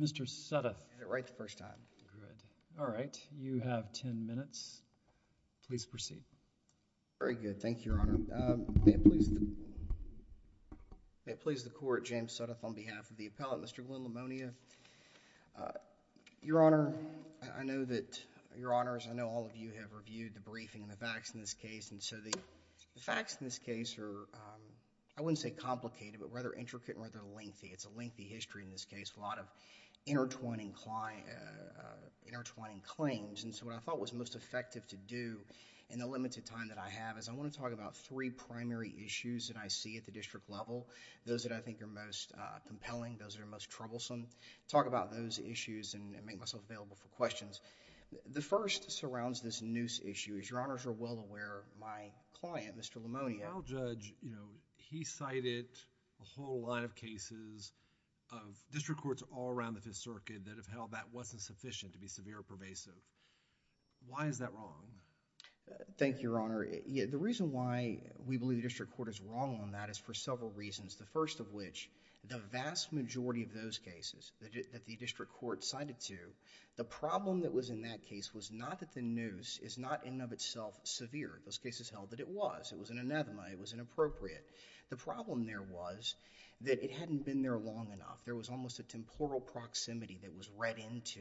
Mr. Suttoth, may I please the Court, James Suttoth, on behalf of the Appellant, Mr. Glyn Lamonia. Your Honor, I know that, Your Honors, I know all of you have reviewed the briefing and the facts in this case, and so the facts in this case are, I wouldn't say complicated, but rather intricate and rather lengthy. It's a lengthy history in this case, a lot of intertwining claims, and so what I thought was most effective to do in the limited time that I have is I want to talk about three primary issues that I see at the district level, those that I think are most compelling, those that are most troublesome, talk about those issues and make myself available for questions. The first surrounds this noose issue. As Your Honors are well aware, my client, Mr. Lamonia... Yes... has a whole line of cases of district courts all around the Fifth Circuit that have held that wasn't sufficient to be severe or pervasive. Why is that wrong? Thank you, Your Honor. The reason why we believe the district court is wrong on that is for several reasons. The first of which, the vast majority of those cases that the district court cited to, the problem that was in that case was not that the noose is not in and of itself severe. Those cases held that it was. It was an anathema. It was inappropriate. The problem there was that it hadn't been there long enough. There was almost a temporal proximity that was read into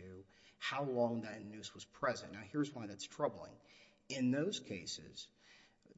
how long that noose was present. Now, here's why that's troubling. In those cases,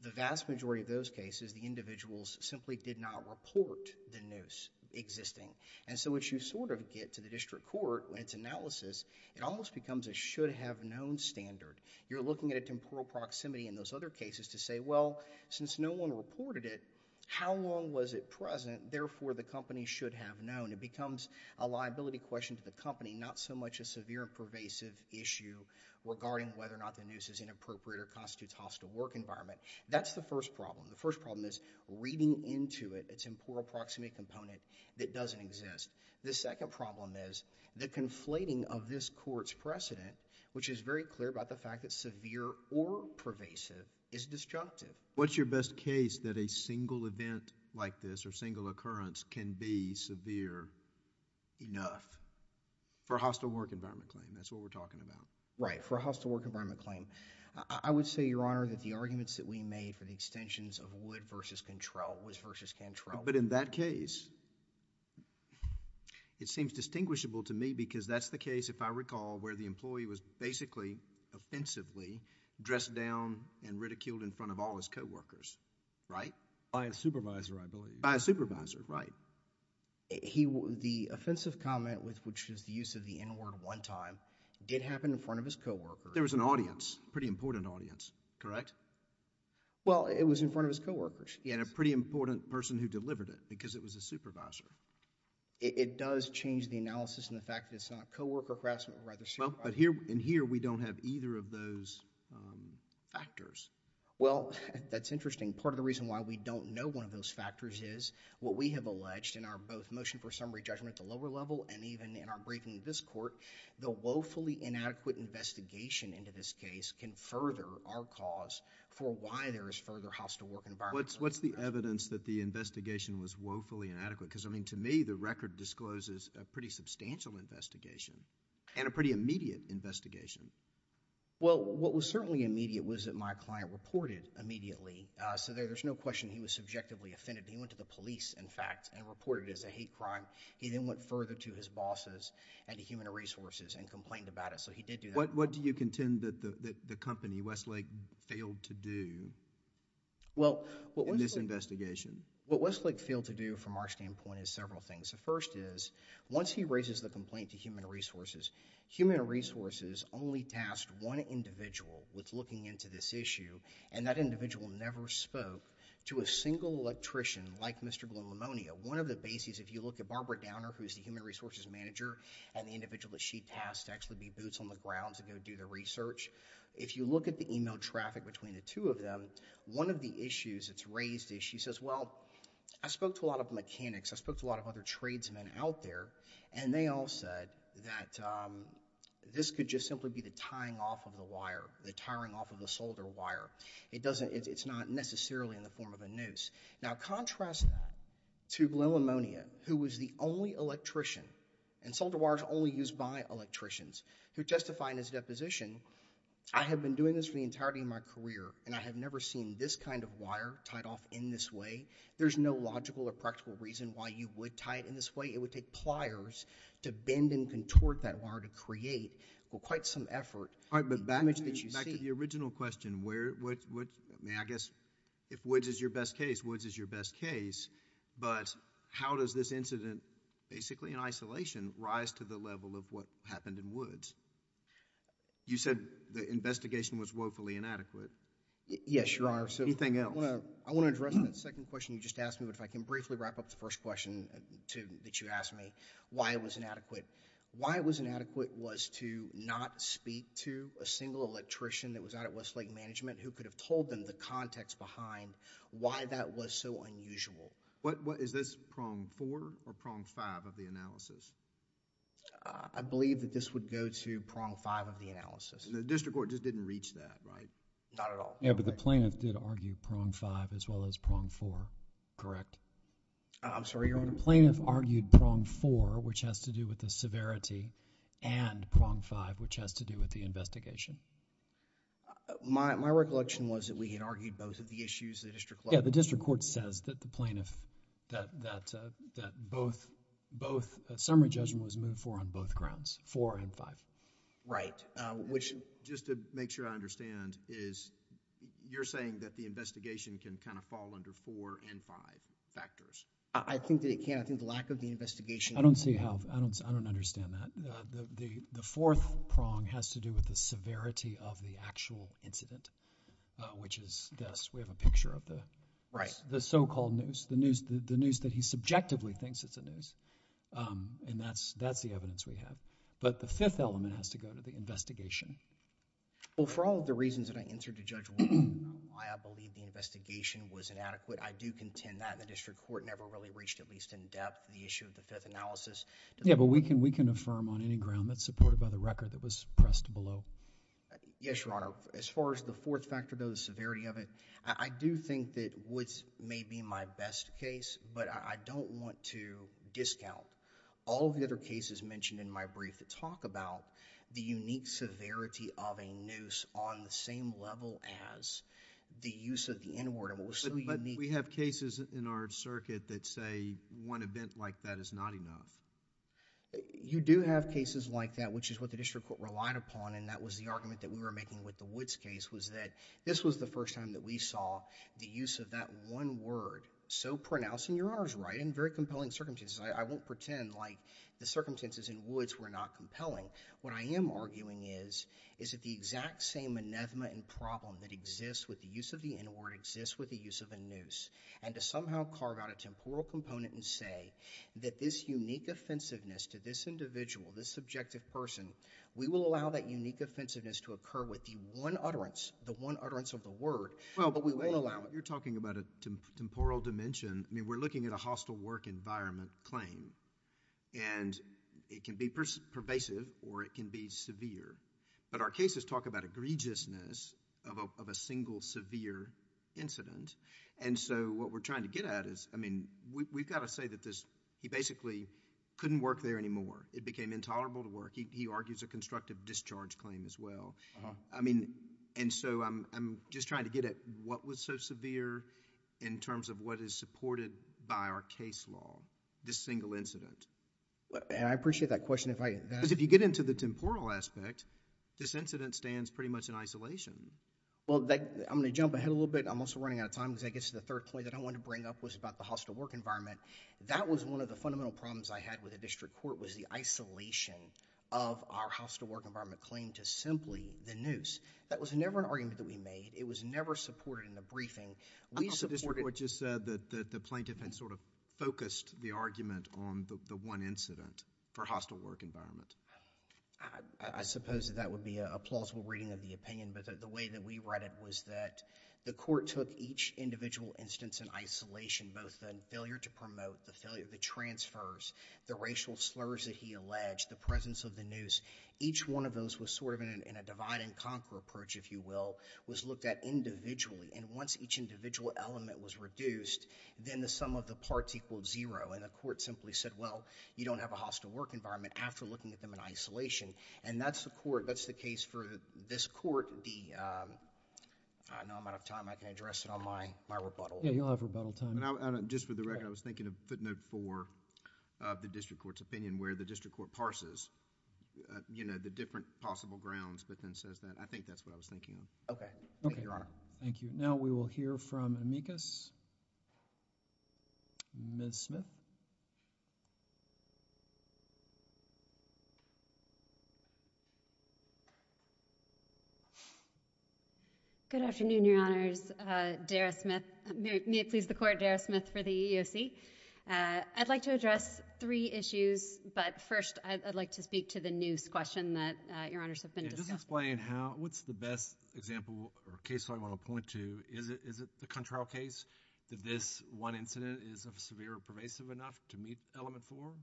the vast majority of those cases, the individuals simply did not report the noose existing. So, as you sort of get to the district court and its analysis, it almost becomes a should have known standard. You're looking at a temporal proximity in those other cases to say, well, since no one reported it, how long was it present? Therefore, the company should have known. It becomes a liability question to the company, not so much a severe and pervasive issue regarding whether or not the noose is inappropriate or constitutes hostile work environment. That's the first problem. The first problem is reading into it, a temporal proximity component that doesn't exist. The second problem is the conflating of this court's precedent, which is very clear about the fact that severe or pervasive is destructive. What's your best case that a single event like this or single occurrence can be severe enough? For a hostile work environment claim. That's what we're talking about. Right. For a hostile work environment claim. I would say, Your Honor, that the arguments that we made for the extensions of Wood v. Cantrell... But in that case, it seems distinguishable to me because that's the case, if I recall, where the employee was basically, offensively, dressed down and ridiculed in front of all his co-workers. Right? By a supervisor, I believe. By a supervisor, right. The offensive comment, which is the use of the N-word one time, did happen in front of his co-workers. There was an audience, pretty important audience, correct? Well, it was in front of his co-workers. He had a pretty important person who delivered it because it was his supervisor. It does change the analysis in the fact that it's not co-worker harassment, but rather supervisor harassment. Well, but here, in here, we don't have either of those factors. Well, that's interesting. Part of the reason why we don't know one of those factors is, what we have alleged in our both motion for summary judgment at the lower level and even in our briefing to this court, the woefully inadequate investigation into this case can further our cause for why there is further hostile work environment. What's the evidence that the investigation was woefully inadequate? Because, I mean, to me, the record discloses a pretty substantial investigation and a pretty immediate investigation. Well, what was certainly immediate was that my client reported immediately. So, there's no question he was subjectively offended. He went to the police, in fact, and reported it as a hate crime. He then went further to his bosses and to Human Resources and complained about it. So, he did do that. What do you contend that the company, Westlake, failed to do in this investigation? What Westlake failed to do, from our standpoint, is several things. The first is, once he raises the complaint to Human Resources, Human Resources only tasked one individual with looking into this issue, and that individual never spoke to a single electrician like Mr. Glomimonia. One of the bases, if you look at Barbara Downer, who is the Human Resources manager, and the individual that she tasked to actually be boots on the ground to go do the research, if you look at the email traffic between the two of them, one of the issues that's raised is she says, well, I spoke to a lot of mechanics, I spoke to a lot of other tradesmen out there, and they all said that this could just simply be the tying off of the wire, the tiring off of the solder wire. It doesn't, it's not necessarily in the form of a noose. Now contrast that to Glomimonia, who was the only electrician, and solder wire is only used by electricians, who testified in his deposition, I have been doing this for the in this way. There's no logical or practical reason why you would tie it in this way. It would take pliers to bend and contort that wire to create quite some effort. All right, but back to the original question, where, I guess, if Woods is your best case, Woods is your best case, but how does this incident, basically in isolation, rise to the level of what happened in Woods? You said the investigation was woefully inadequate. Yes, Your Honor. Anything else? I want to address that second question you just asked me, but if I can briefly wrap up the first question that you asked me, why it was inadequate. Why it was inadequate was to not speak to a single electrician that was out at West Lake Management who could have told them the context behind why that was so unusual. Is this prong four or prong five of the analysis? I believe that this would go to prong five of the analysis. The district court just didn't reach that, right? Not at all. Yeah, but the plaintiff did argue prong five as well as prong four, correct? I'm sorry, Your Honor. Plaintiff argued prong four, which has to do with the severity, and prong five, which has to do with the investigation. My recollection was that we had argued both of the issues, the district court... Yeah, the district court says that the plaintiff, that both, that summary judgment was moved for on both grounds, four and five. Right. Which... Just to make sure I understand is you're saying that the investigation can kind of fall under four and five factors? I think that it can. I think the lack of the investigation... I don't see how. I don't understand that. The fourth prong has to do with the severity of the actual incident, which is this. We have a picture of the... Right. The so-called news, the news that he subjectively thinks it's the news, and that's the evidence we have. But the fifth element has to go to the investigation. Well, for all of the reasons that I answered to Judge Wood, why I believe the investigation was inadequate, I do contend that the district court never really reached at least in-depth the issue of the fifth analysis... Yeah, but we can affirm on any ground that's supported by the record that was pressed below. Yes, Your Honor. As far as the fourth factor, though, the severity of it, I do think that Woods may be my best case, but I don't want to discount all of the other cases mentioned in my brief. They talk about the unique severity of a noose on the same level as the use of the N-word. But we have cases in our circuit that say one event like that is not enough. You do have cases like that, which is what the district court relied upon, and that was the argument that we were making with the Woods case, was that this was the first time that we saw the use of that one word so pronounced, and Your Honor's right, in very compelling circumstances. I won't pretend like the circumstances in Woods were not compelling. What I am arguing is, is that the exact same anathema and problem that exists with the use of the N-word exists with the use of a noose, and to somehow carve out a temporal component and say that this unique offensiveness to this individual, this subjective person, we will allow that unique offensiveness to occur with the one utterance, the one utterance of the word, but we won't allow it. You're talking about a temporal dimension. We're looking at a hostile work environment claim, and it can be pervasive or it can be severe, but our cases talk about egregiousness of a single severe incident. What we're trying to get at is, we've got to say that he basically couldn't work there anymore. It became intolerable to work. He argues a constructive discharge claim as well. I mean, and so I'm just trying to get at what was so severe in terms of what is supported by our case law, this single incident. I appreciate that question. Because if you get into the temporal aspect, this incident stands pretty much in isolation. Well, I'm going to jump ahead a little bit. I'm also running out of time because I guess the third point that I wanted to bring up was about the hostile work environment. That was one of the fundamental problems I had with the district court was the isolation of our hostile work environment claim to simply the noose. That was never an argument that we made. It was never supported in the briefing. We supported- I thought the district court just said that the plaintiff had sort of focused the argument on the one incident for hostile work environment. I suppose that that would be a plausible reading of the opinion, but the way that we read it was that the court took each individual instance in isolation, both the failure to promote, the failure, the transfers, the racial slurs that he alleged, the presence of the noose. Each one of those was sort of in a divide and conquer approach, if you will, was looked at individually. And once each individual element was reduced, then the sum of the parts equaled zero. And the court simply said, well, you don't have a hostile work environment after looking at them in isolation. And that's the court- that's the case for this court, the- I know I'm out of time. I can address it on my rebuttal. Yeah, you'll have rebuttal time. Just for the record, I was thinking of footnote four of the district court's opinion where the district court parses, you know, the different possible grounds, but then says that- I think that's what I was thinking of. Okay. Thank you, Your Honor. Thank you. Now, we will hear from Amicus. Ms. Smith. Dara Smith. May it please the Court. Dara Smith. Thank you. I'm Dara Smith for the EEOC. Uh, I'd like to address three issues, but first, I'd like to speak to the noose question that, uh, Your Honors have been discussing. Yeah. Just explain how- what's the best example or case I want to point to? Is it- is it the control case that this one incident is severe or pervasive enough to meet element four?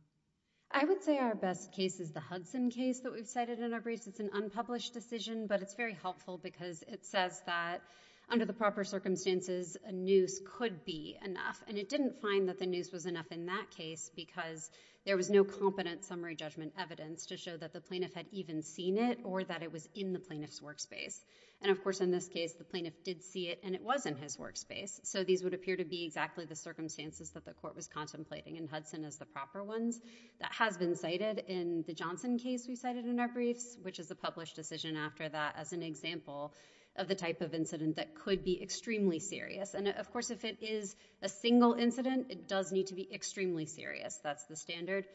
I would say our best case is the Hudson case that we've cited in our briefs. It's an unpublished decision, but it's very helpful because it says that under the proper circumstances, a noose could be enough, and it didn't find that the noose was enough in that case because there was no competent summary judgment evidence to show that the plaintiff had even seen it or that it was in the plaintiff's workspace. And of course, in this case, the plaintiff did see it, and it was in his workspace. So these would appear to be exactly the circumstances that the Court was contemplating, and Hudson is the proper ones. That has been cited in the Johnson case we cited in our briefs, which is a published decision after that as an example of the type of incident that could be extremely serious. And of course, if it is a single incident, it does need to be extremely serious. That's the standard.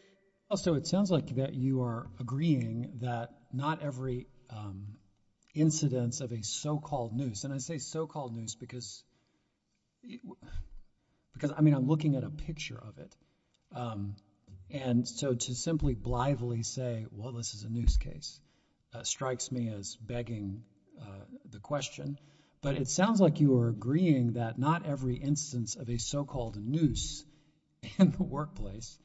Also, it sounds like that you are agreeing that not every incidence of a so-called noose- and I say so-called noose because- because, I mean, I'm looking at a picture of it. And so to simply blithely say, well, this is a noose case, strikes me as begging the question, but it sounds like you are agreeing that not every instance of a so-called noose in the workplace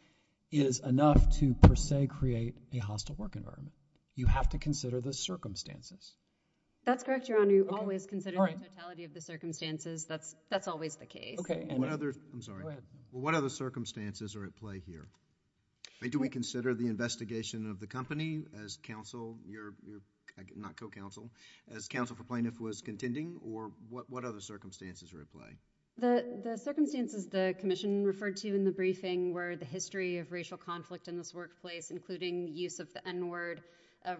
is enough to, per se, create a hostile work environment. You have to consider the circumstances. That's correct, Your Honor. You always consider the totality of the circumstances. Okay. And what other- I'm sorry. What other circumstances are at play here? I mean, do we consider the investigation of the company as counsel, your- not co-counsel, as counsel for plaintiff was contending, or what other circumstances are at play? The circumstances the commission referred to in the briefing were the history of racial conflict in this workplace, including use of the N-word,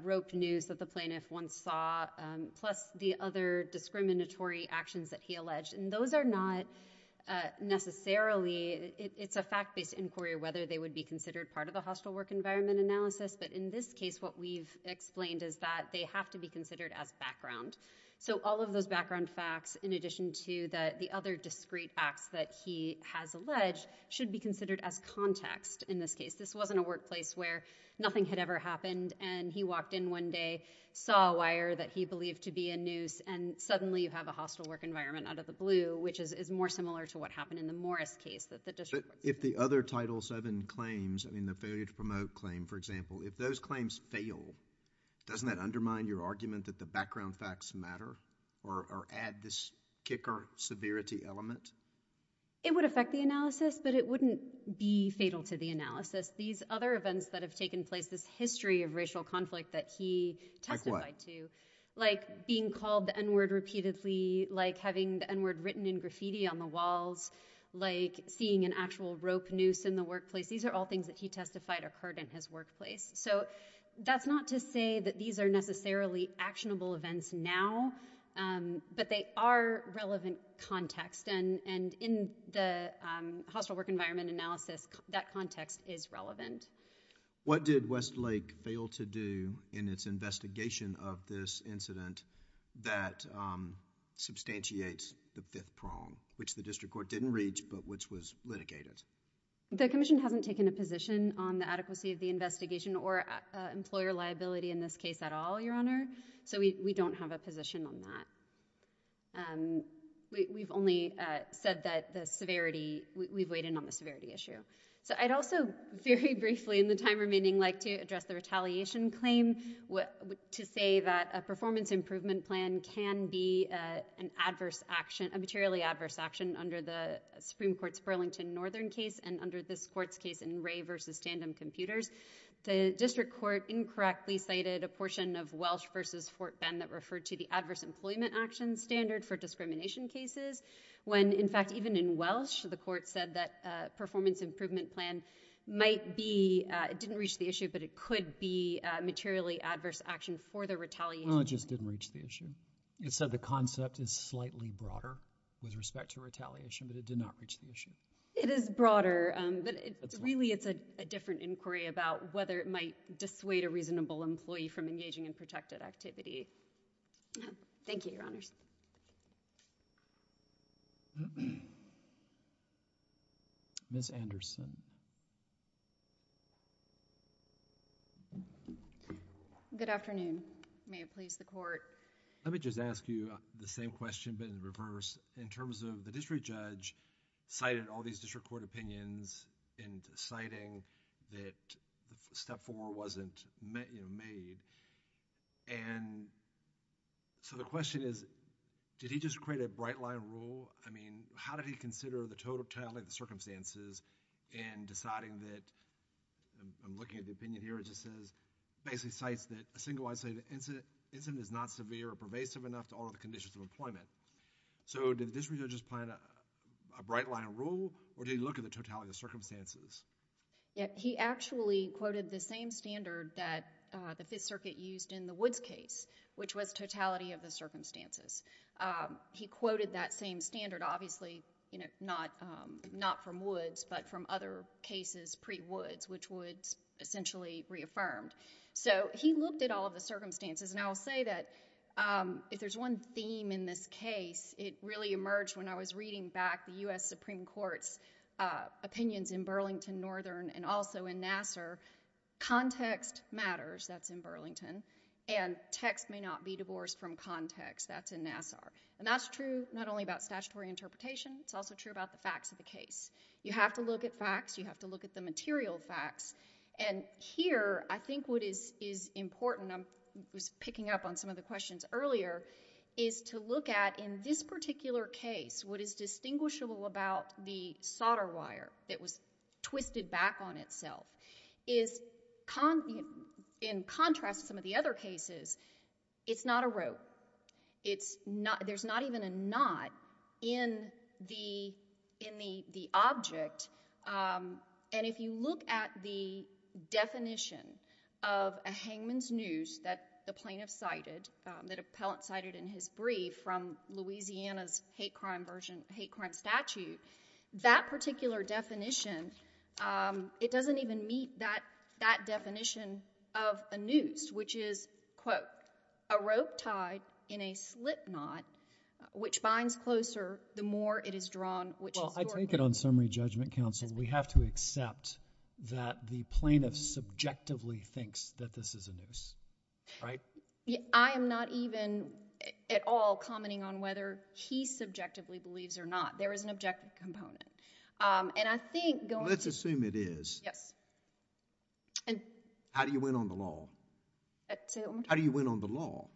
roped noose that the plaintiff once saw, plus the other discriminatory actions that he alleged. And those are not necessarily- it's a fact-based inquiry whether they would be considered part of the hostile work environment analysis, but in this case, what we've explained is that they have to be considered as background. So all of those background facts, in addition to the other discreet acts that he has alleged, should be considered as context in this case. This wasn't a workplace where nothing had ever happened, and he walked in one day, saw a wire that he believed to be a noose, and suddenly you have a hostile work environment out of the blue, which is, is more similar to what happened in the Morris case, that the district- But if the other Title VII claims, I mean the failure to promote claim, for example, if those claims fail, doesn't that undermine your argument that the background facts matter? Or, or add this kicker severity element? It would affect the analysis, but it wouldn't be fatal to the analysis. These other events that have taken place, this history of racial conflict that he testified to, like being called the N-word repeatedly, like having the N-word written in graffiti on the walls, like seeing an actual rope noose in the workplace, these are all things that he testified occurred in his workplace. So that's not to say that these are necessarily actionable events now, but they are relevant context, and, and in the hostile work environment analysis, that context is relevant. What did Westlake fail to do in its investigation of this incident that, um, substantiates the fifth prong, which the district court didn't reach, but which was litigated? The commission hasn't taken a position on the adequacy of the investigation or, uh, employer liability in this case at all, Your Honor, so we, we don't have a position on that. Um, we, we've only, uh, said that the severity, we, we've weighed in on the severity issue. So I'd also very briefly in the time remaining like to address the retaliation claim, what, to say that a performance improvement plan can be, uh, an adverse action, a materially adverse action under the Supreme Court's Burlington Northern case, and under this court's case in Ray versus Tandem Computers, the district court incorrectly cited a portion of Welsh versus Fort Bend that referred to the adverse employment action standard for discrimination cases when, in fact, even in Welsh, the court said that, uh, performance improvement plan might be, uh, it didn't reach the issue, but it could be, uh, materially adverse action for the retaliation. Well, it just didn't reach the issue. It said the concept is slightly broader with respect to retaliation, but it did not reach the issue. It is broader, um, but it's really, it's a, a different inquiry about whether it might dissuade a reasonable employee from engaging in protected activity. Thank you, Your Honors. Ms. Anderson. Good afternoon. May it please the Court. Let me just ask you the same question, but in reverse, in terms of the district judge cited all these district court opinions and citing that step four wasn't, you know, made, and so the question is, did he just create a bright-line rule? I mean, how did he consider the totality of the circumstances in deciding that, um, I'm looking at the opinion here, it just says, basically cites that a single incident, incident is not severe or pervasive enough to all of the conditions of employment. So, did the district judge just plan a, a bright-line rule, or did he look at the totality of the circumstances? Yeah. He actually quoted the same standard that, uh, the Fifth Circuit used in the Woods case, which was totality of the circumstances. Um, he quoted that same standard, obviously, you know, not, um, not from Woods, but from other cases pre-Woods, which Woods essentially reaffirmed. So, he looked at all of the circumstances, and I'll say that, um, if there's one theme in this case, it really emerged when I was reading back the U.S. Supreme Court's, uh, opinions in Burlington Northern and also in Nassar, context matters, that's in Burlington, and text may not be divorced from context, that's in Nassar. And that's true not only about statutory interpretation, it's also true about the facts of the case. You have to look at facts, you have to look at the material facts, and here, I think what is, is important, I'm, was picking up on some of the questions earlier, is to look at, in this particular case, what is distinguishable about the solder wire that was twisted back on itself, is con, in contrast to some of the other cases, it's not a rope. It's not, there's not even a knot in the, in the, the object, um, and if you look at the definition of a hangman's noose that the plaintiff cited, um, that appellant cited in his brief from Louisiana's hate crime version, hate crime statute, that particular definition, um, it doesn't even meet that, that definition of a noose, which is, quote, a rope tied in a slip knot, which binds closer the more it is drawn, which is. Well, I take it on summary judgment counsel, we have to accept that the plaintiff subjectively thinks that this is a noose, right? I am not even at all commenting on whether he subjectively believes or not. There is an objective component, um, and I think going to... Let's assume it is. Yes. And... How do you win on the law? Say that one more time. How do you win on the law?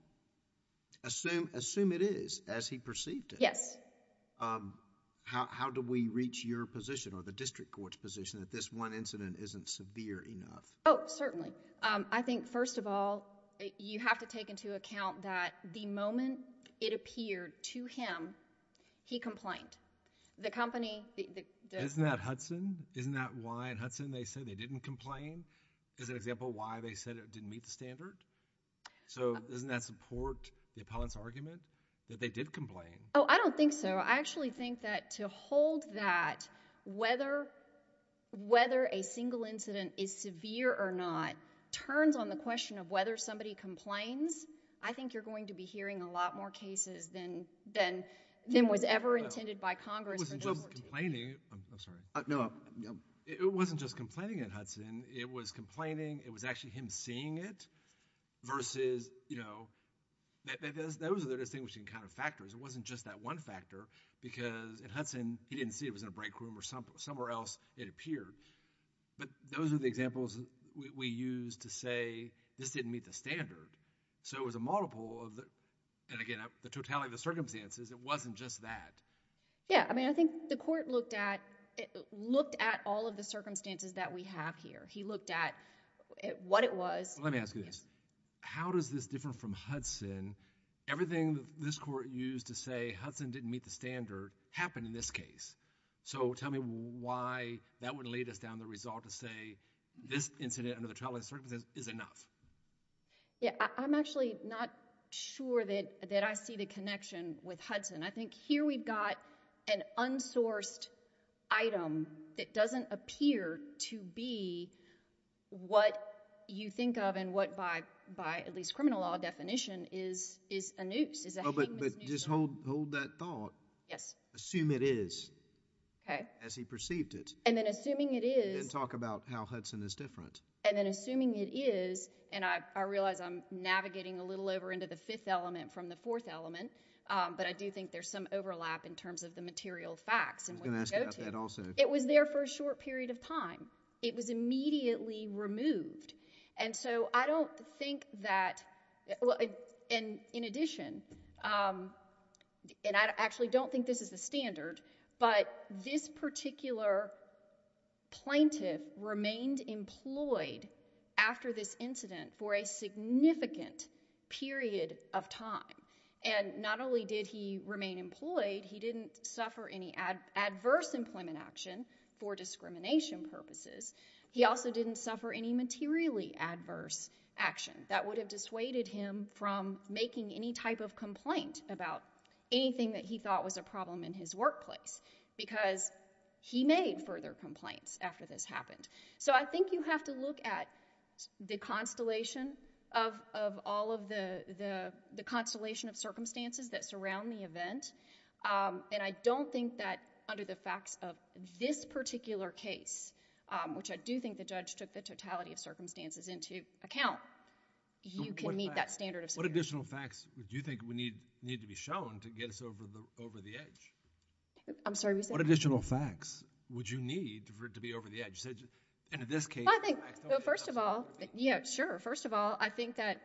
Assume, assume it is as he perceived it. Yes. Um, how, how do we reach your position or the district court's position that this one incident isn't severe enough? Oh, certainly. Um, I think first of all, you have to take into account that the moment it appeared to him, he complained. The company, the... Isn't that Hudson? Isn't that why in Hudson they said they didn't complain? Is it an example of why they said it didn't meet the standard? So, doesn't that support the appellant's argument that they did complain? Oh, I don't think so. I actually think that to hold that whether, whether a single incident is severe or not turns on the question of whether somebody complains. I think you're going to be hearing a lot more cases than, than, than was ever intended by Congress. It wasn't just complaining. I'm sorry. No. It wasn't just complaining at Hudson. It was complaining. It was actually him seeing it versus, you know, those are the distinguishing kind of factors. It wasn't just that one factor because at Hudson, he didn't see it. It was in a break room or somewhere else it appeared. But those are the examples we, we use to say this didn't meet the standard. So, it was a multiple of the, and again, the totality of the circumstances, it wasn't just that. Yeah. I mean, I think the court looked at, looked at all of the circumstances that we have here. He looked at what it was. Let me ask you this. How does this differ from Hudson? Everything that this court used to say Hudson didn't meet the standard happened in this case. So, tell me why that would lead us down the result to say this incident under the totality of circumstances is enough. Yeah. I'm actually not sure that, that I see the connection with Hudson. I think here we've got an unsourced item that doesn't appear to be what you think of and what by, by at least criminal law definition is, is a noose, is a hangman's noose. Oh, but, but just hold, hold that thought. Yes. Assume it is. Okay. As he perceived it. And then assuming it is. Then talk about how Hudson is different. And then assuming it is, and I, I realize I'm navigating a little over into the fifth element from the fourth element, but I do think there's some overlap in terms of the material facts and where we go to. I was going to ask about that also. It was there for a short period of time. It was immediately removed. And so I don't think that, and in addition, and I actually don't think this is the standard, but this particular plaintiff remained employed after this incident for a significant period of time. And not only did he remain employed, he didn't suffer any adverse employment action for discrimination purposes. He also didn't suffer any materially adverse action that would have dissuaded him from making any type of complaint about anything that he thought was a problem in his workplace because he made further complaints after this happened. So I think you have to look at the constellation of, of all of the, the, the constellation of circumstances that surround the event. And I don't think that under the facts of this particular case, which I do think the judge took the totality of circumstances into account, you can meet that standard of security. What additional facts would you think would need, need to be shown to get us over the, over the edge? I'm sorry, what did you say? What additional facts would you need for it to be over the edge? You said, in this case... Well, I think, well, first of all, yeah, sure. First of all, I think that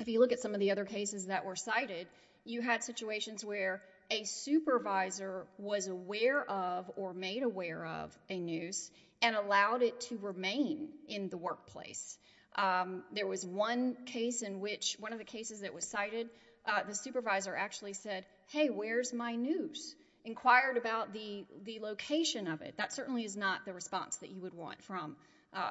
if you look at some of the other cases that were cited, you had situations where a supervisor was aware of or made aware of a noose and allowed it to remain in the workplace. There was one case in which, one of the cases that was cited, the supervisor actually said, hey, where's my noose? Inquired about the, the location of it. That certainly is not the response that you would want from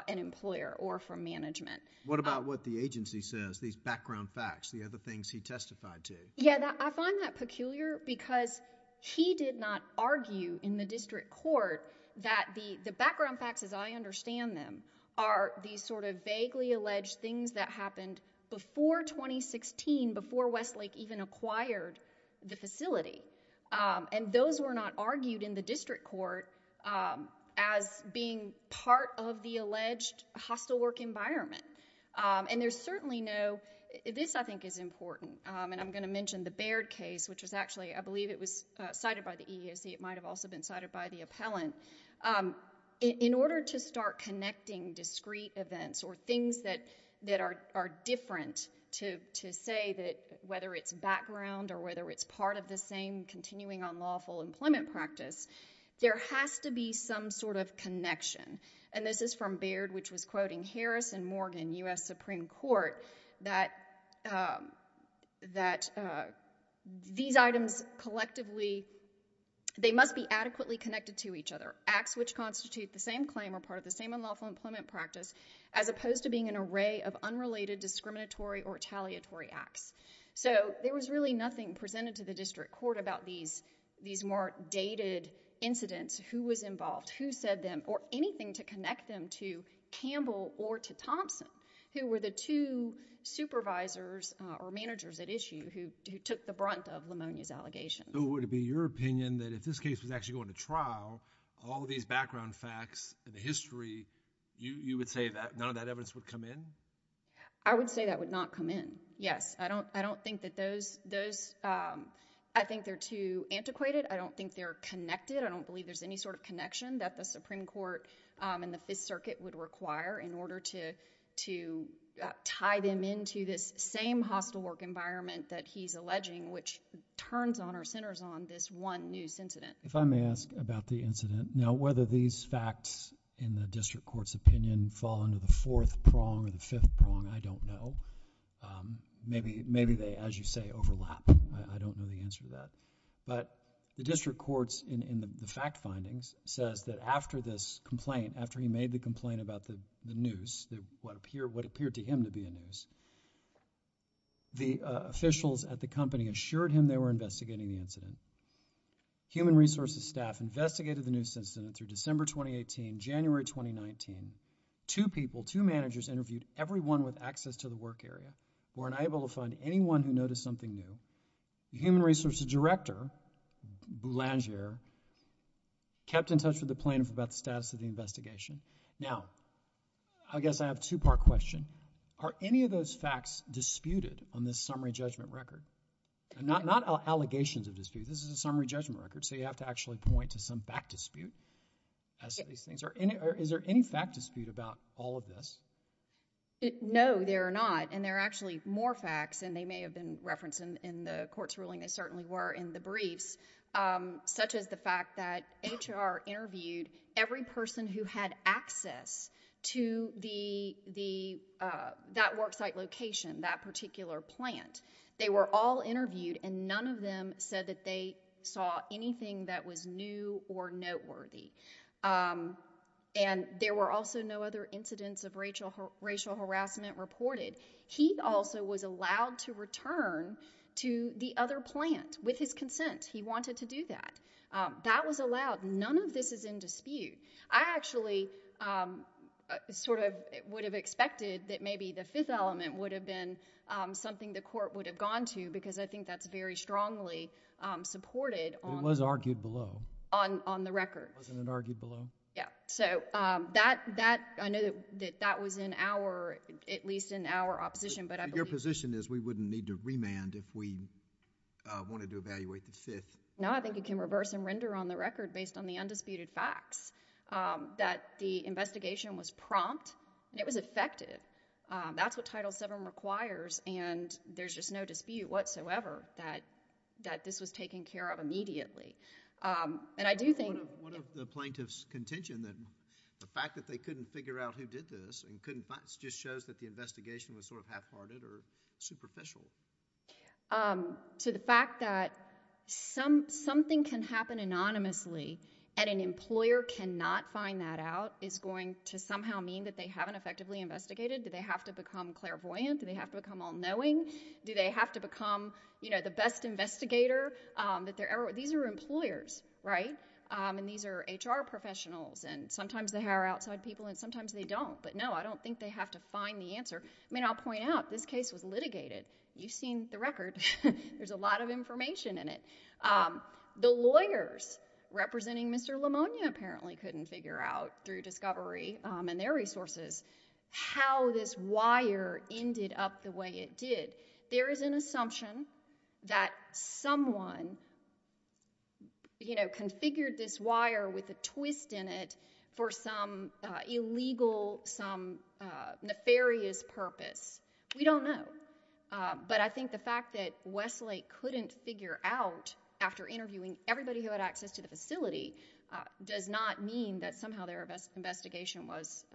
an employer or from management. What about what the agency says, these background facts, the other things he testified to? Yeah, I find that peculiar because he did not argue in the district court that the, the background facts as I understand them are these sort of vaguely alleged things that happened before 2016, before Westlake even acquired the facility. And those were not argued in the district court as being part of the alleged hostile work environment. And there's certainly no, this I think is important, and I'm going to mention the Baird case, which was actually, I believe it was cited by the EEOC. It might have also been cited by the appellant. In order to start connecting discrete events or things that, that are, are different to, to say that whether it's background or whether it's part of the same continuing unlawful employment practice, there has to be some sort of connection. And this is from Baird, which was quoting Harris and Morgan, U.S. Supreme Court, that, that these items collectively, they must be adequately connected to each other. Acts which constitute the same claim are part of the same unlawful employment practice, as opposed to being an array of unrelated discriminatory or taliatory acts. So there was really nothing presented to the district court about these, these more dated incidents, who was involved, who said them, or anything to connect them to Campbell or to Thompson, who were the two supervisors or managers at issue who, who took the brunt of Lamonia's allegations. So would it be your opinion that if this case was actually going to trial, all these background facts and the history, you, you would say that none of that evidence would come in? I would say that would not come in, yes. I don't, I don't think that those, those, I think they're too antiquated. I don't think they're connected. I don't believe there's any sort of connection that the Supreme Court and the Fifth Circuit would require in order to, to tie them into this same hostile work environment that he's alleging, which turns on or centers on this one news incident. If I may ask about the incident. Now, whether these facts in the district court's opinion fall under the fourth prong or the fifth prong, I don't know. Maybe, maybe they, as you say, overlap. I, I don't know the answer to that. But the district court's, in, in the fact findings, says that after this complaint, after he made the complaint about the, the news, the, what appear, what appeared to him to be a news, the officials at the company assured him they were investigating the incident. Human Resources staff investigated the news incident through December 2018, January 2019. Two people, two managers interviewed everyone with access to the work area who were unable to find anyone who noticed something new. The Human Resources Director, Boulanger, kept in touch with the plaintiff about the status of the investigation. Now, I guess I have a two-part question. Are any of those facts disputed on this summary judgment record? Not, not allegations of dispute. This is a summary judgment record, so you have to actually point to some back dispute as to these things. Are any, is there any fact dispute about all of this? No, there are not. And there are actually more facts, and they may have been referenced in, in the court's ruling. They certainly were in the briefs, such as the fact that HR interviewed every person who had access to the, the, that worksite location, that particular plant. They were all interviewed, and none of them said that they saw anything that was new or noteworthy. And there were also no other incidents of racial, racial harassment reported. He also was allowed to return to the other plant with his consent. He wanted to do that. That was allowed. None of this is in dispute. I actually sort of would have expected that maybe the fifth element would have been something the court would have gone to, because I think that's very strongly supported on... It was argued below. On, on the record. Wasn't it argued below? Yeah. So, that, that, I know that, that was in our, at least in our opposition, but I believe... But your position is we wouldn't need to remand if we wanted to evaluate the fifth. No, I think it can reverse and render on the record based on the undisputed facts, that the investigation was prompt, and it was effective. That's what Title VII requires, and there's just no dispute whatsoever that, that this was taken care of immediately. And I do think... What of, what of the plaintiff's contention that the fact that they couldn't figure out who did this, and couldn't find, just shows that the investigation was sort of half-hearted or superficial? So, the fact that some, something can happen anonymously, and an employer cannot find that out, is going to somehow mean that they haven't effectively investigated? Do they have to become clairvoyant? Do they have to become all-knowing? These are employers, right? And these are HR professionals, and sometimes they hire outside people, and sometimes they don't. But no, I don't think they have to find the answer. I mean, I'll point out, this case was litigated. You've seen the record. There's a lot of information in it. The lawyers representing Mr. Lamonia apparently couldn't figure out, through discovery and their resources, how this wire ended up the way it did. There is an assumption that someone, you know, configured this wire with a twist in it for some illegal, some nefarious purpose. We don't know. But I think the fact that Westlake couldn't figure out, after interviewing everybody who had access to the facility, does not mean that somehow their investigation was,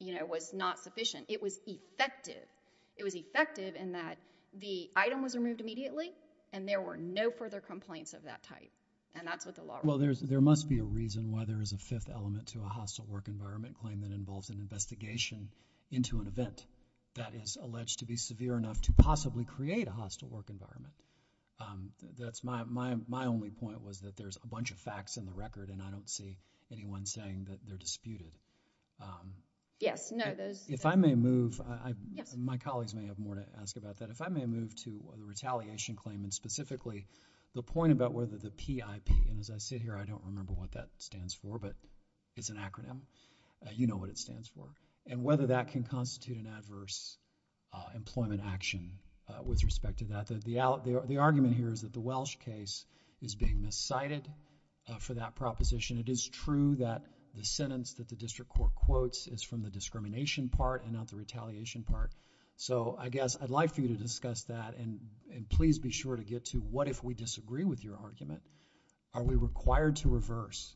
you know, was not sufficient. It was effective. It was effective in that the item was removed immediately, and there were no further complaints of that type. And that's what the law requires. Well, there must be a reason why there is a fifth element to a hostile work environment claim that involves an investigation into an event that is alleged to be severe enough to possibly create a hostile work environment. That's my only point, was that there's a bunch of facts in the record, and I don't see anyone saying that they're disputed. Yes. No. If I may move. Yes. My colleagues may have more to ask about that. If I may move to the retaliation claim, and specifically, the point about whether the PIP, and as I sit here, I don't remember what that stands for, but it's an acronym. You know what it stands for, and whether that can constitute an adverse employment action with respect to that. The argument here is that the Welsh case is being miscited for that proposition. It is true that the sentence that the district court quotes is from the discrimination part and not the retaliation part. So, I guess, I'd like for you to discuss that, and please be sure to get to what if we disagree with your argument, are we required to reverse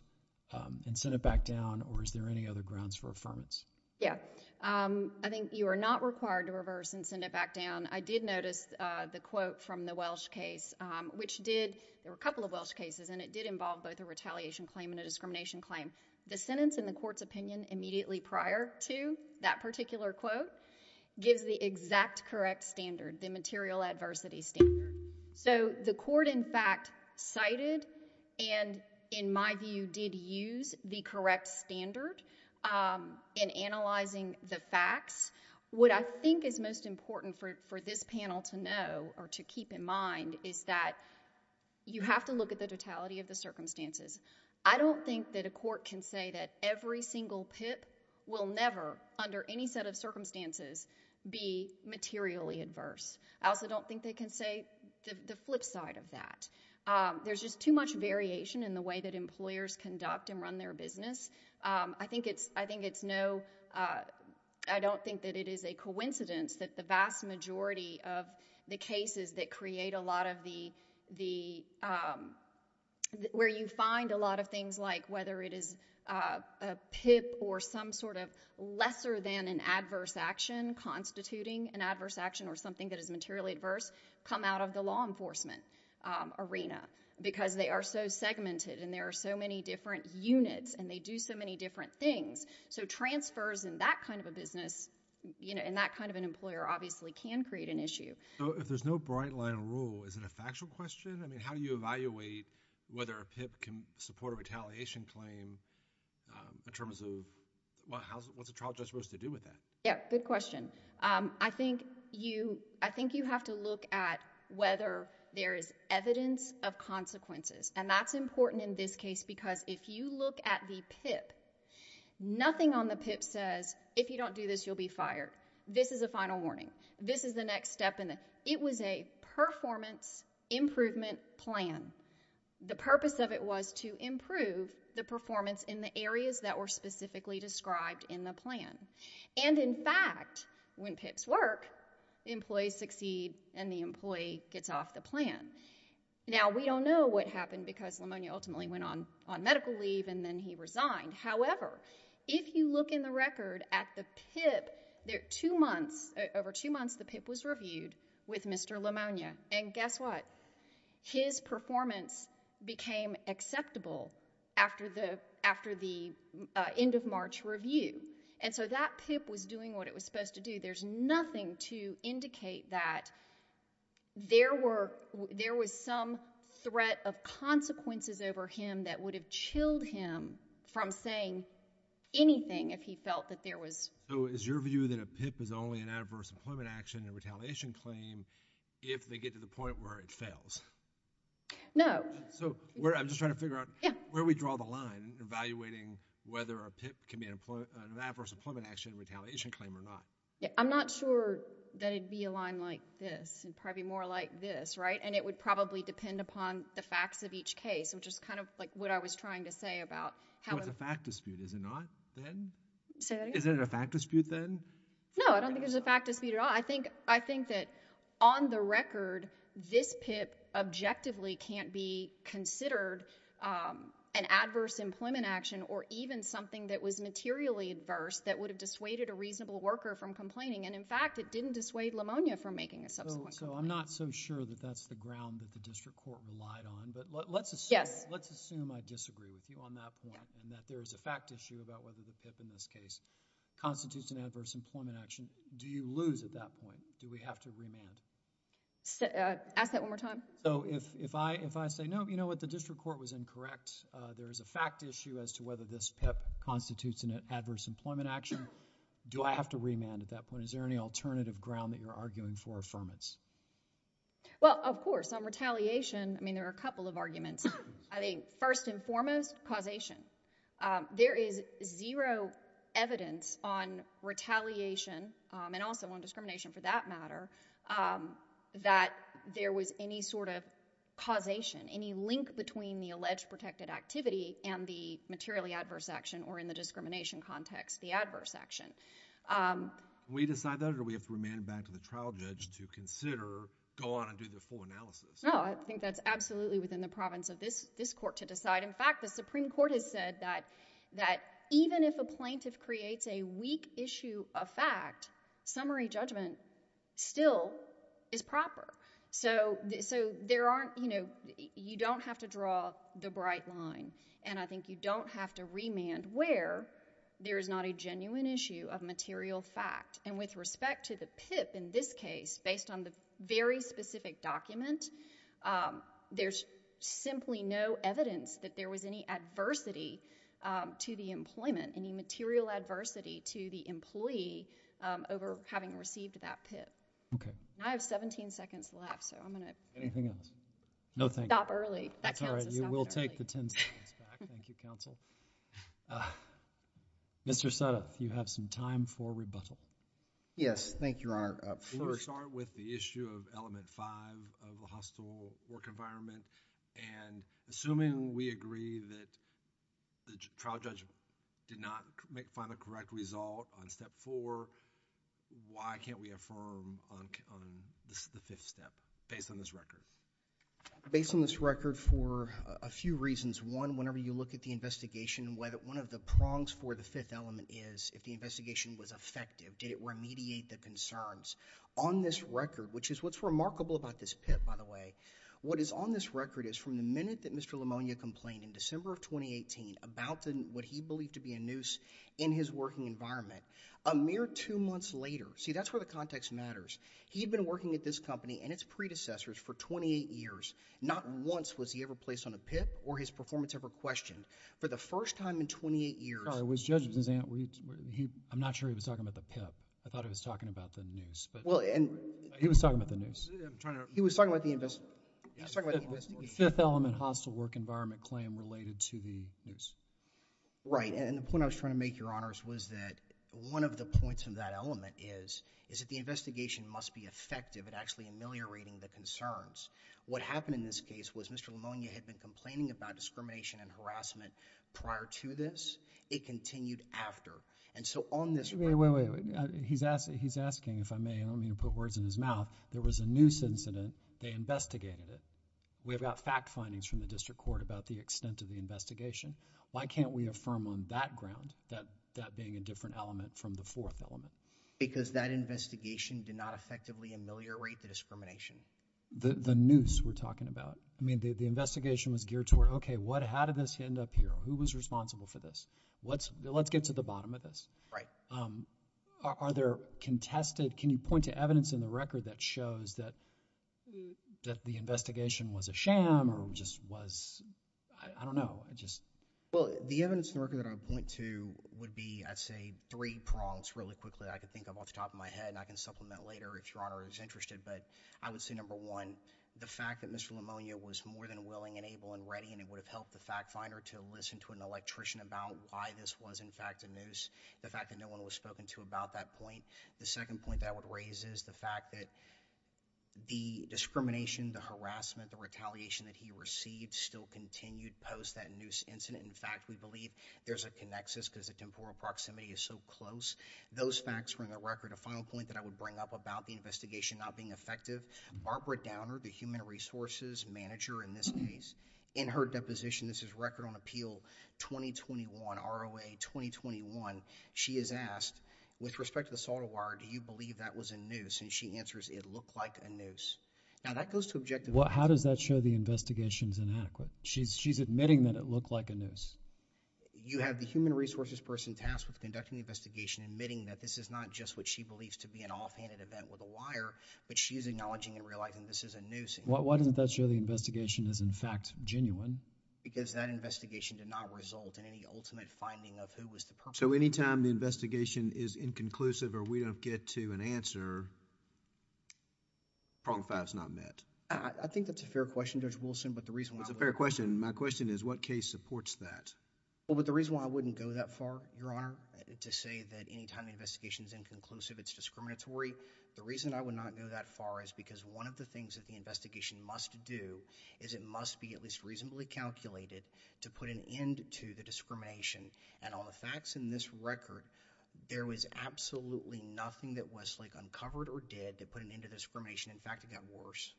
and send it back down, or is there any other grounds for affirmance? Yeah. I think you are not required to reverse and send it back down. I did notice the quote from the Welsh case, which did... there were a couple of Welsh cases, and it did involve both a retaliation claim and a discrimination claim. The sentence in the court's opinion immediately prior to that particular quote gives the exact correct standard, the material adversity standard. So, the court, in fact, cited and, in my view, did use the correct standard in analyzing the facts. What I think is most important for this panel to know, or to keep in mind, is that you have to look at the totality of the circumstances. I don't think that a court can say that every single PIP will never, under any set of circumstances, be materially adverse. I also don't think they can say the flip side of that. There's just too much variation in the way that employers conduct and run their business. I think it's no... I don't think that it is a coincidence that the vast majority of the cases that create a lot of the... where you find a lot of things like whether it is a PIP or some sort of lesser than an adverse action constituting an adverse action or something that is materially adverse come out of the law enforcement arena because they are so segmented and there are so many different units and they do so many different things. Transfers in that kind of a business, in that kind of an employer, obviously can create an issue. If there's no bright line rule, is it a factual question? How do you evaluate whether a PIP can support a retaliation claim in terms of... what's a trial judge supposed to do with that? Good question. I think you have to look at whether there is evidence of consequences. That's important in this case because if you look at the PIP, nothing on the PIP says, if you don't do this, you'll be fired. This is a final warning. This is the next step. It was a performance improvement plan. The purpose of it was to improve the performance in the areas that were specifically described in the plan. In fact, when PIPs work, employees succeed and the employee gets off the plan. Now, we don't know what happened because Lemonia ultimately went on medical leave and then he resigned. However, if you look in the record at the PIP, over two months the PIP was reviewed with Mr. Lemonia. And guess what? His performance became acceptable after the end of March review. And so that PIP was doing what it was supposed to do. There's nothing to indicate that there was some threat of consequences over him that would have chilled him from saying anything if he felt that there was. So is your view that a PIP is only an adverse employment action and retaliation claim if they get to the point where it fails? No. So I'm just trying to figure out where we draw the line in evaluating whether a PIP can be an adverse employment action and retaliation claim or not. Yeah. I'm not sure that it'd be a line like this. It'd probably be more like this, right? And it would probably depend upon the facts of each case, which is kind of like what I was trying to say about how— So it's a fact dispute, is it not, then? Say that again? Is it a fact dispute, then? No, I don't think it's a fact dispute at all. I think that on the record, this PIP objectively can't be considered an adverse employment action or even something that was materially adverse that would have dissuaded a reasonable worker from complaining. And in fact, it didn't dissuade Lamonia from making a subsequent complaint. So I'm not so sure that that's the ground that the district court relied on. But let's assume— Yes. Let's assume I disagree with you on that point and that there is a fact issue about whether the PIP in this case constitutes an adverse employment action. Do you lose at that point? Do we have to remand? Ask that one more time. So if I say, no, you know what, the district court was incorrect. There is a fact issue as to whether this PIP constitutes an adverse employment action. Do I have to remand at that point? Is there any alternative ground that you're arguing for affirmance? Well, of course. On retaliation, I mean, there are a couple of arguments. I think first and foremost, causation. There is zero evidence on retaliation, and also on discrimination for that matter, that there was any sort of causation, any link between the alleged protected activity and the materially adverse action, or in the discrimination context, the adverse action. Can we decide that, or do we have to remand it back to the trial judge to consider, go on and do the full analysis? No, I think that's absolutely within the province of this court to decide. In fact, the Supreme Court has said that even if a plaintiff creates a weak issue of fact, summary judgment still is proper. So there aren't, you know, you don't have to draw the bright line. And I think you don't have to remand where there is not a genuine issue of material fact. And with respect to the PIP in this case, based on the very specific document, there's simply no evidence that there was any adversity to the employment, any material adversity to the employee over having received that PIP. Okay. I have 17 seconds left, so I'm going to... Anything else? No, thank you. Stop early. That counts as stop early. That's all right. You will take the ten seconds back. Thank you, counsel. Mr. Suttoth, you have some time for rebuttal. Thank you, Your Honor. First... We're going to start with the issue of element five of the hostile work environment. And assuming we agree that the trial judge did not find a correct result on step four, why can't we affirm on the fifth step based on this record? Based on this record for a few reasons. One, whenever you look at the investigation, one of the prongs for the fifth element is if the investigation was effective. Did it remediate the concerns? On this record, which is what's remarkable about this PIP, by the way, what is on this record is from the minute that Mr. Lamonia complained in December of 2018 about what he believed to be a noose in his working environment, a mere two months later... See, that's where the context matters. He had been working at this company and its predecessors for 28 years. Not once was he ever placed on a PIP or his performance ever questioned. For the first time in 28 years... I'm not sure he was talking about the PIP. I thought he was talking about the noose. He was talking about the noose. He was talking about the investigation. The fifth element hostile work environment claim related to the noose. Right. And the point I was trying to make, Your Honors, was that one of the points of that element is, is that the investigation must be effective at actually ameliorating the concerns. What happened in this case was Mr. Lamonia had been complaining about discrimination and harassment prior to this. It continued after. And so, on this record... Wait, wait, wait. He's asking, if I may, and I don't mean to put words in his mouth. There was a noose incident. They investigated it. We've got fact findings from the district court about the extent of the investigation. Why can't we affirm on that ground, that being a different element from the fourth element? Because that investigation did not effectively ameliorate the discrimination. The noose we're talking about. I mean, the investigation was geared toward, okay, how did this end up here? Who was responsible for this? Let's get to the bottom of this. Right. Are there contested... Can you point to evidence in the record that shows that the investigation was a sham or just was... I don't know. I just... Well, the evidence in the record that I would point to would be, I'd say, three prongs really quickly. I can think of off the top of my head, and I can supplement later if Your Honor is interested. But I would say, number one, the fact that Mr. Lamonia was more than willing and able and ready, and it would have helped the fact finder to listen to an electrician about why this was, in fact, a noose. The fact that no one was spoken to about that point. The second point that I would raise is the fact that the discrimination, the harassment, the retaliation that he received still continued post that noose incident. In fact, we believe there's a connexus because the temporal proximity is so close. Those facts were in the record. A final point that I would bring up about the investigation not being effective, Barbara Downer, the human resources manager in this case, in her deposition, this is Record on Appeal 2021, ROA 2021, she is asked, with respect to the solder wire, do you believe that was a noose? And she answers, it looked like a noose. How does that show the investigation is inadequate? She's admitting that it looked like a noose. Why doesn't that show the investigation is, in fact, genuine? Because that investigation did not result in any ultimate finding of who was the perpetrator. So any time the investigation is inconclusive or we don't get to an answer, problem five is not met. I think that's a fair question, Judge Wilson, but the reason why... It's a fair question. My question is what case supports that? Well, but the reason why I wouldn't go that far, Your Honor, to say that any time the investigation is inconclusive, it's discriminatory, the reason I would not go that far is because one of the things that the investigation must do is it must be at least reasonably calculated to put an end to the discrimination. And on the facts in this record, there was absolutely nothing that Westlake uncovered or did to put an end to discrimination. In fact, it got worse.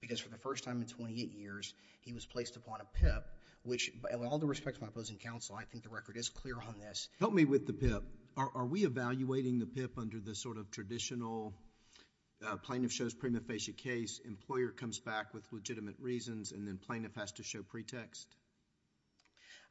Because for the first time in 28 years, he was placed upon a PIP, which in all due respect to my opposing counsel, I think the record is clear on this. Help me with the PIP. Are we evaluating the PIP under the sort of traditional plaintiff shows prima facie case, employer comes back with legitimate reasons, and then plaintiff has to show pretext?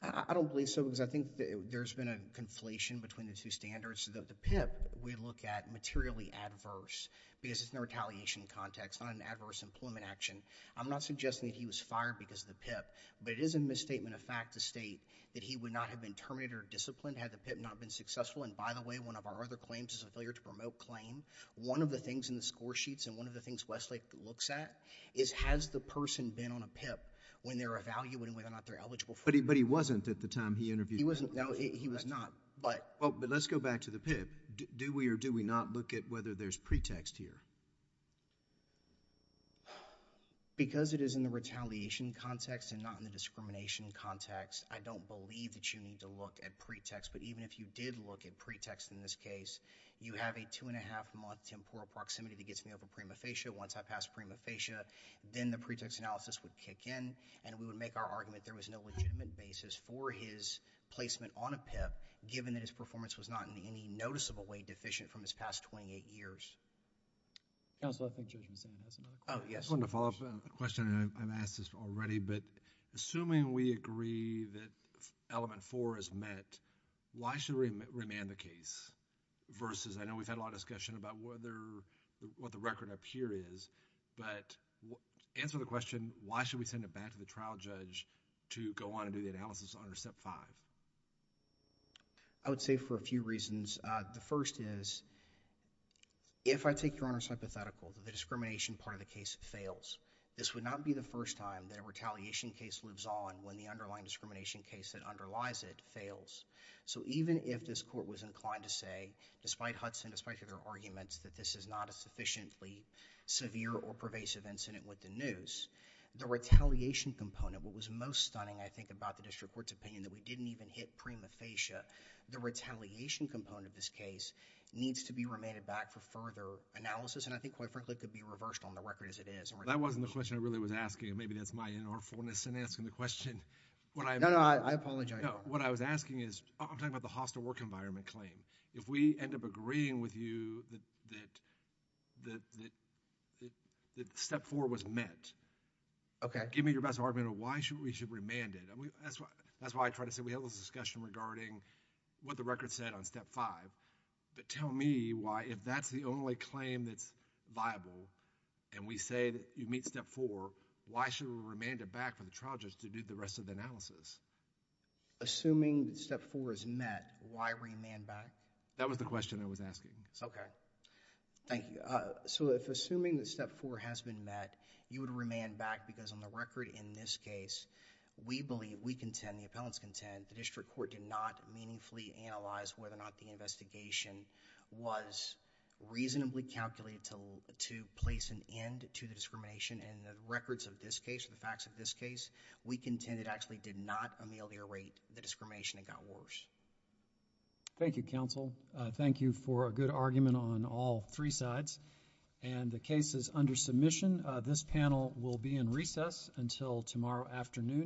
I don't believe so because I think there's been a conflation between the two standards. The PIP we look at materially adverse because it's in a retaliation context, not an adverse employment action. I'm not suggesting that he was fired because of the PIP, but it is a misstatement of fact to state that he would not have been terminated or disciplined had the PIP not been successful. And by the way, one of our other claims is a failure to promote claim. One of the things in the score sheets and one of the things Westlake looks at is has the person been on a PIP when they're evaluating whether or not they're eligible for it. But he wasn't at the time he interviewed. No, he was not. But let's go back to the PIP. Do we or do we not look at whether there's pretext here? Because it is in the retaliation context and not in the discrimination context, I don't believe that you need to look at pretext. But even if you did look at pretext in this case, you have a two-and-a-half-month temporal proximity that gets me over prima facie. Once I pass prima facie, then the pretext analysis would kick in and we would make our argument there was no legitimate basis for his placement on a PIP given that his performance was not in any noticeable way deficient from his past 28 years. Counselor, I think Judge Mazzano has another question. Oh, yes. I just wanted to follow up on a question I've asked this already. But assuming we agree that element four is met, why should we remand the case versus... I know we've had a lot of discussion about what the record up here is. But answer the question, why should we send it back to the trial judge to go on and do the analysis under step five? I would say for a few reasons. The first is, if I take Your Honor's hypothetical, the discrimination part of the case fails. This would not be the first time that a retaliation case lives on when the underlying discrimination case that underlies it fails. So even if this court was inclined to say, despite Hudson, despite their arguments that this is not a sufficiently severe or pervasive incident with the news, the retaliation component, what was most stunning I think about the district court's opinion that we didn't even hit prima facie, the retaliation component of this case needs to be remanded back for further analysis. And I think quite frankly it could be reversed on the record as it is. That wasn't the question I really was asking. Maybe that's my inartfulness in asking the question. No, no, I apologize. What I was asking is, I'm talking about the hostile work environment claim. If we end up agreeing with you that step four was met, give me your best argument of why we should remand it. That's why I try to say we had this discussion regarding what the record said on step five. But tell me why, if that's the only claim that's viable, and we say that you meet step four, why should we remand it back for the trial judge to do the rest of the analysis? Assuming that step four is met, why remand back? That was the question I was asking. Okay. Thank you. If assuming that step four has been met, you would remand back because on the record in this case, we believe, we contend, the appellants contend, the district court did not meaningfully analyze whether or not the investigation was reasonably calculated to place an end to the discrimination. And the records of this case, the facts of this case, we contend it actually did not ameliorate the discrimination. It got worse. Thank you, counsel. Thank you for a good argument on all three sides. And the case is under submission. This panel will be in recess until tomorrow afternoon.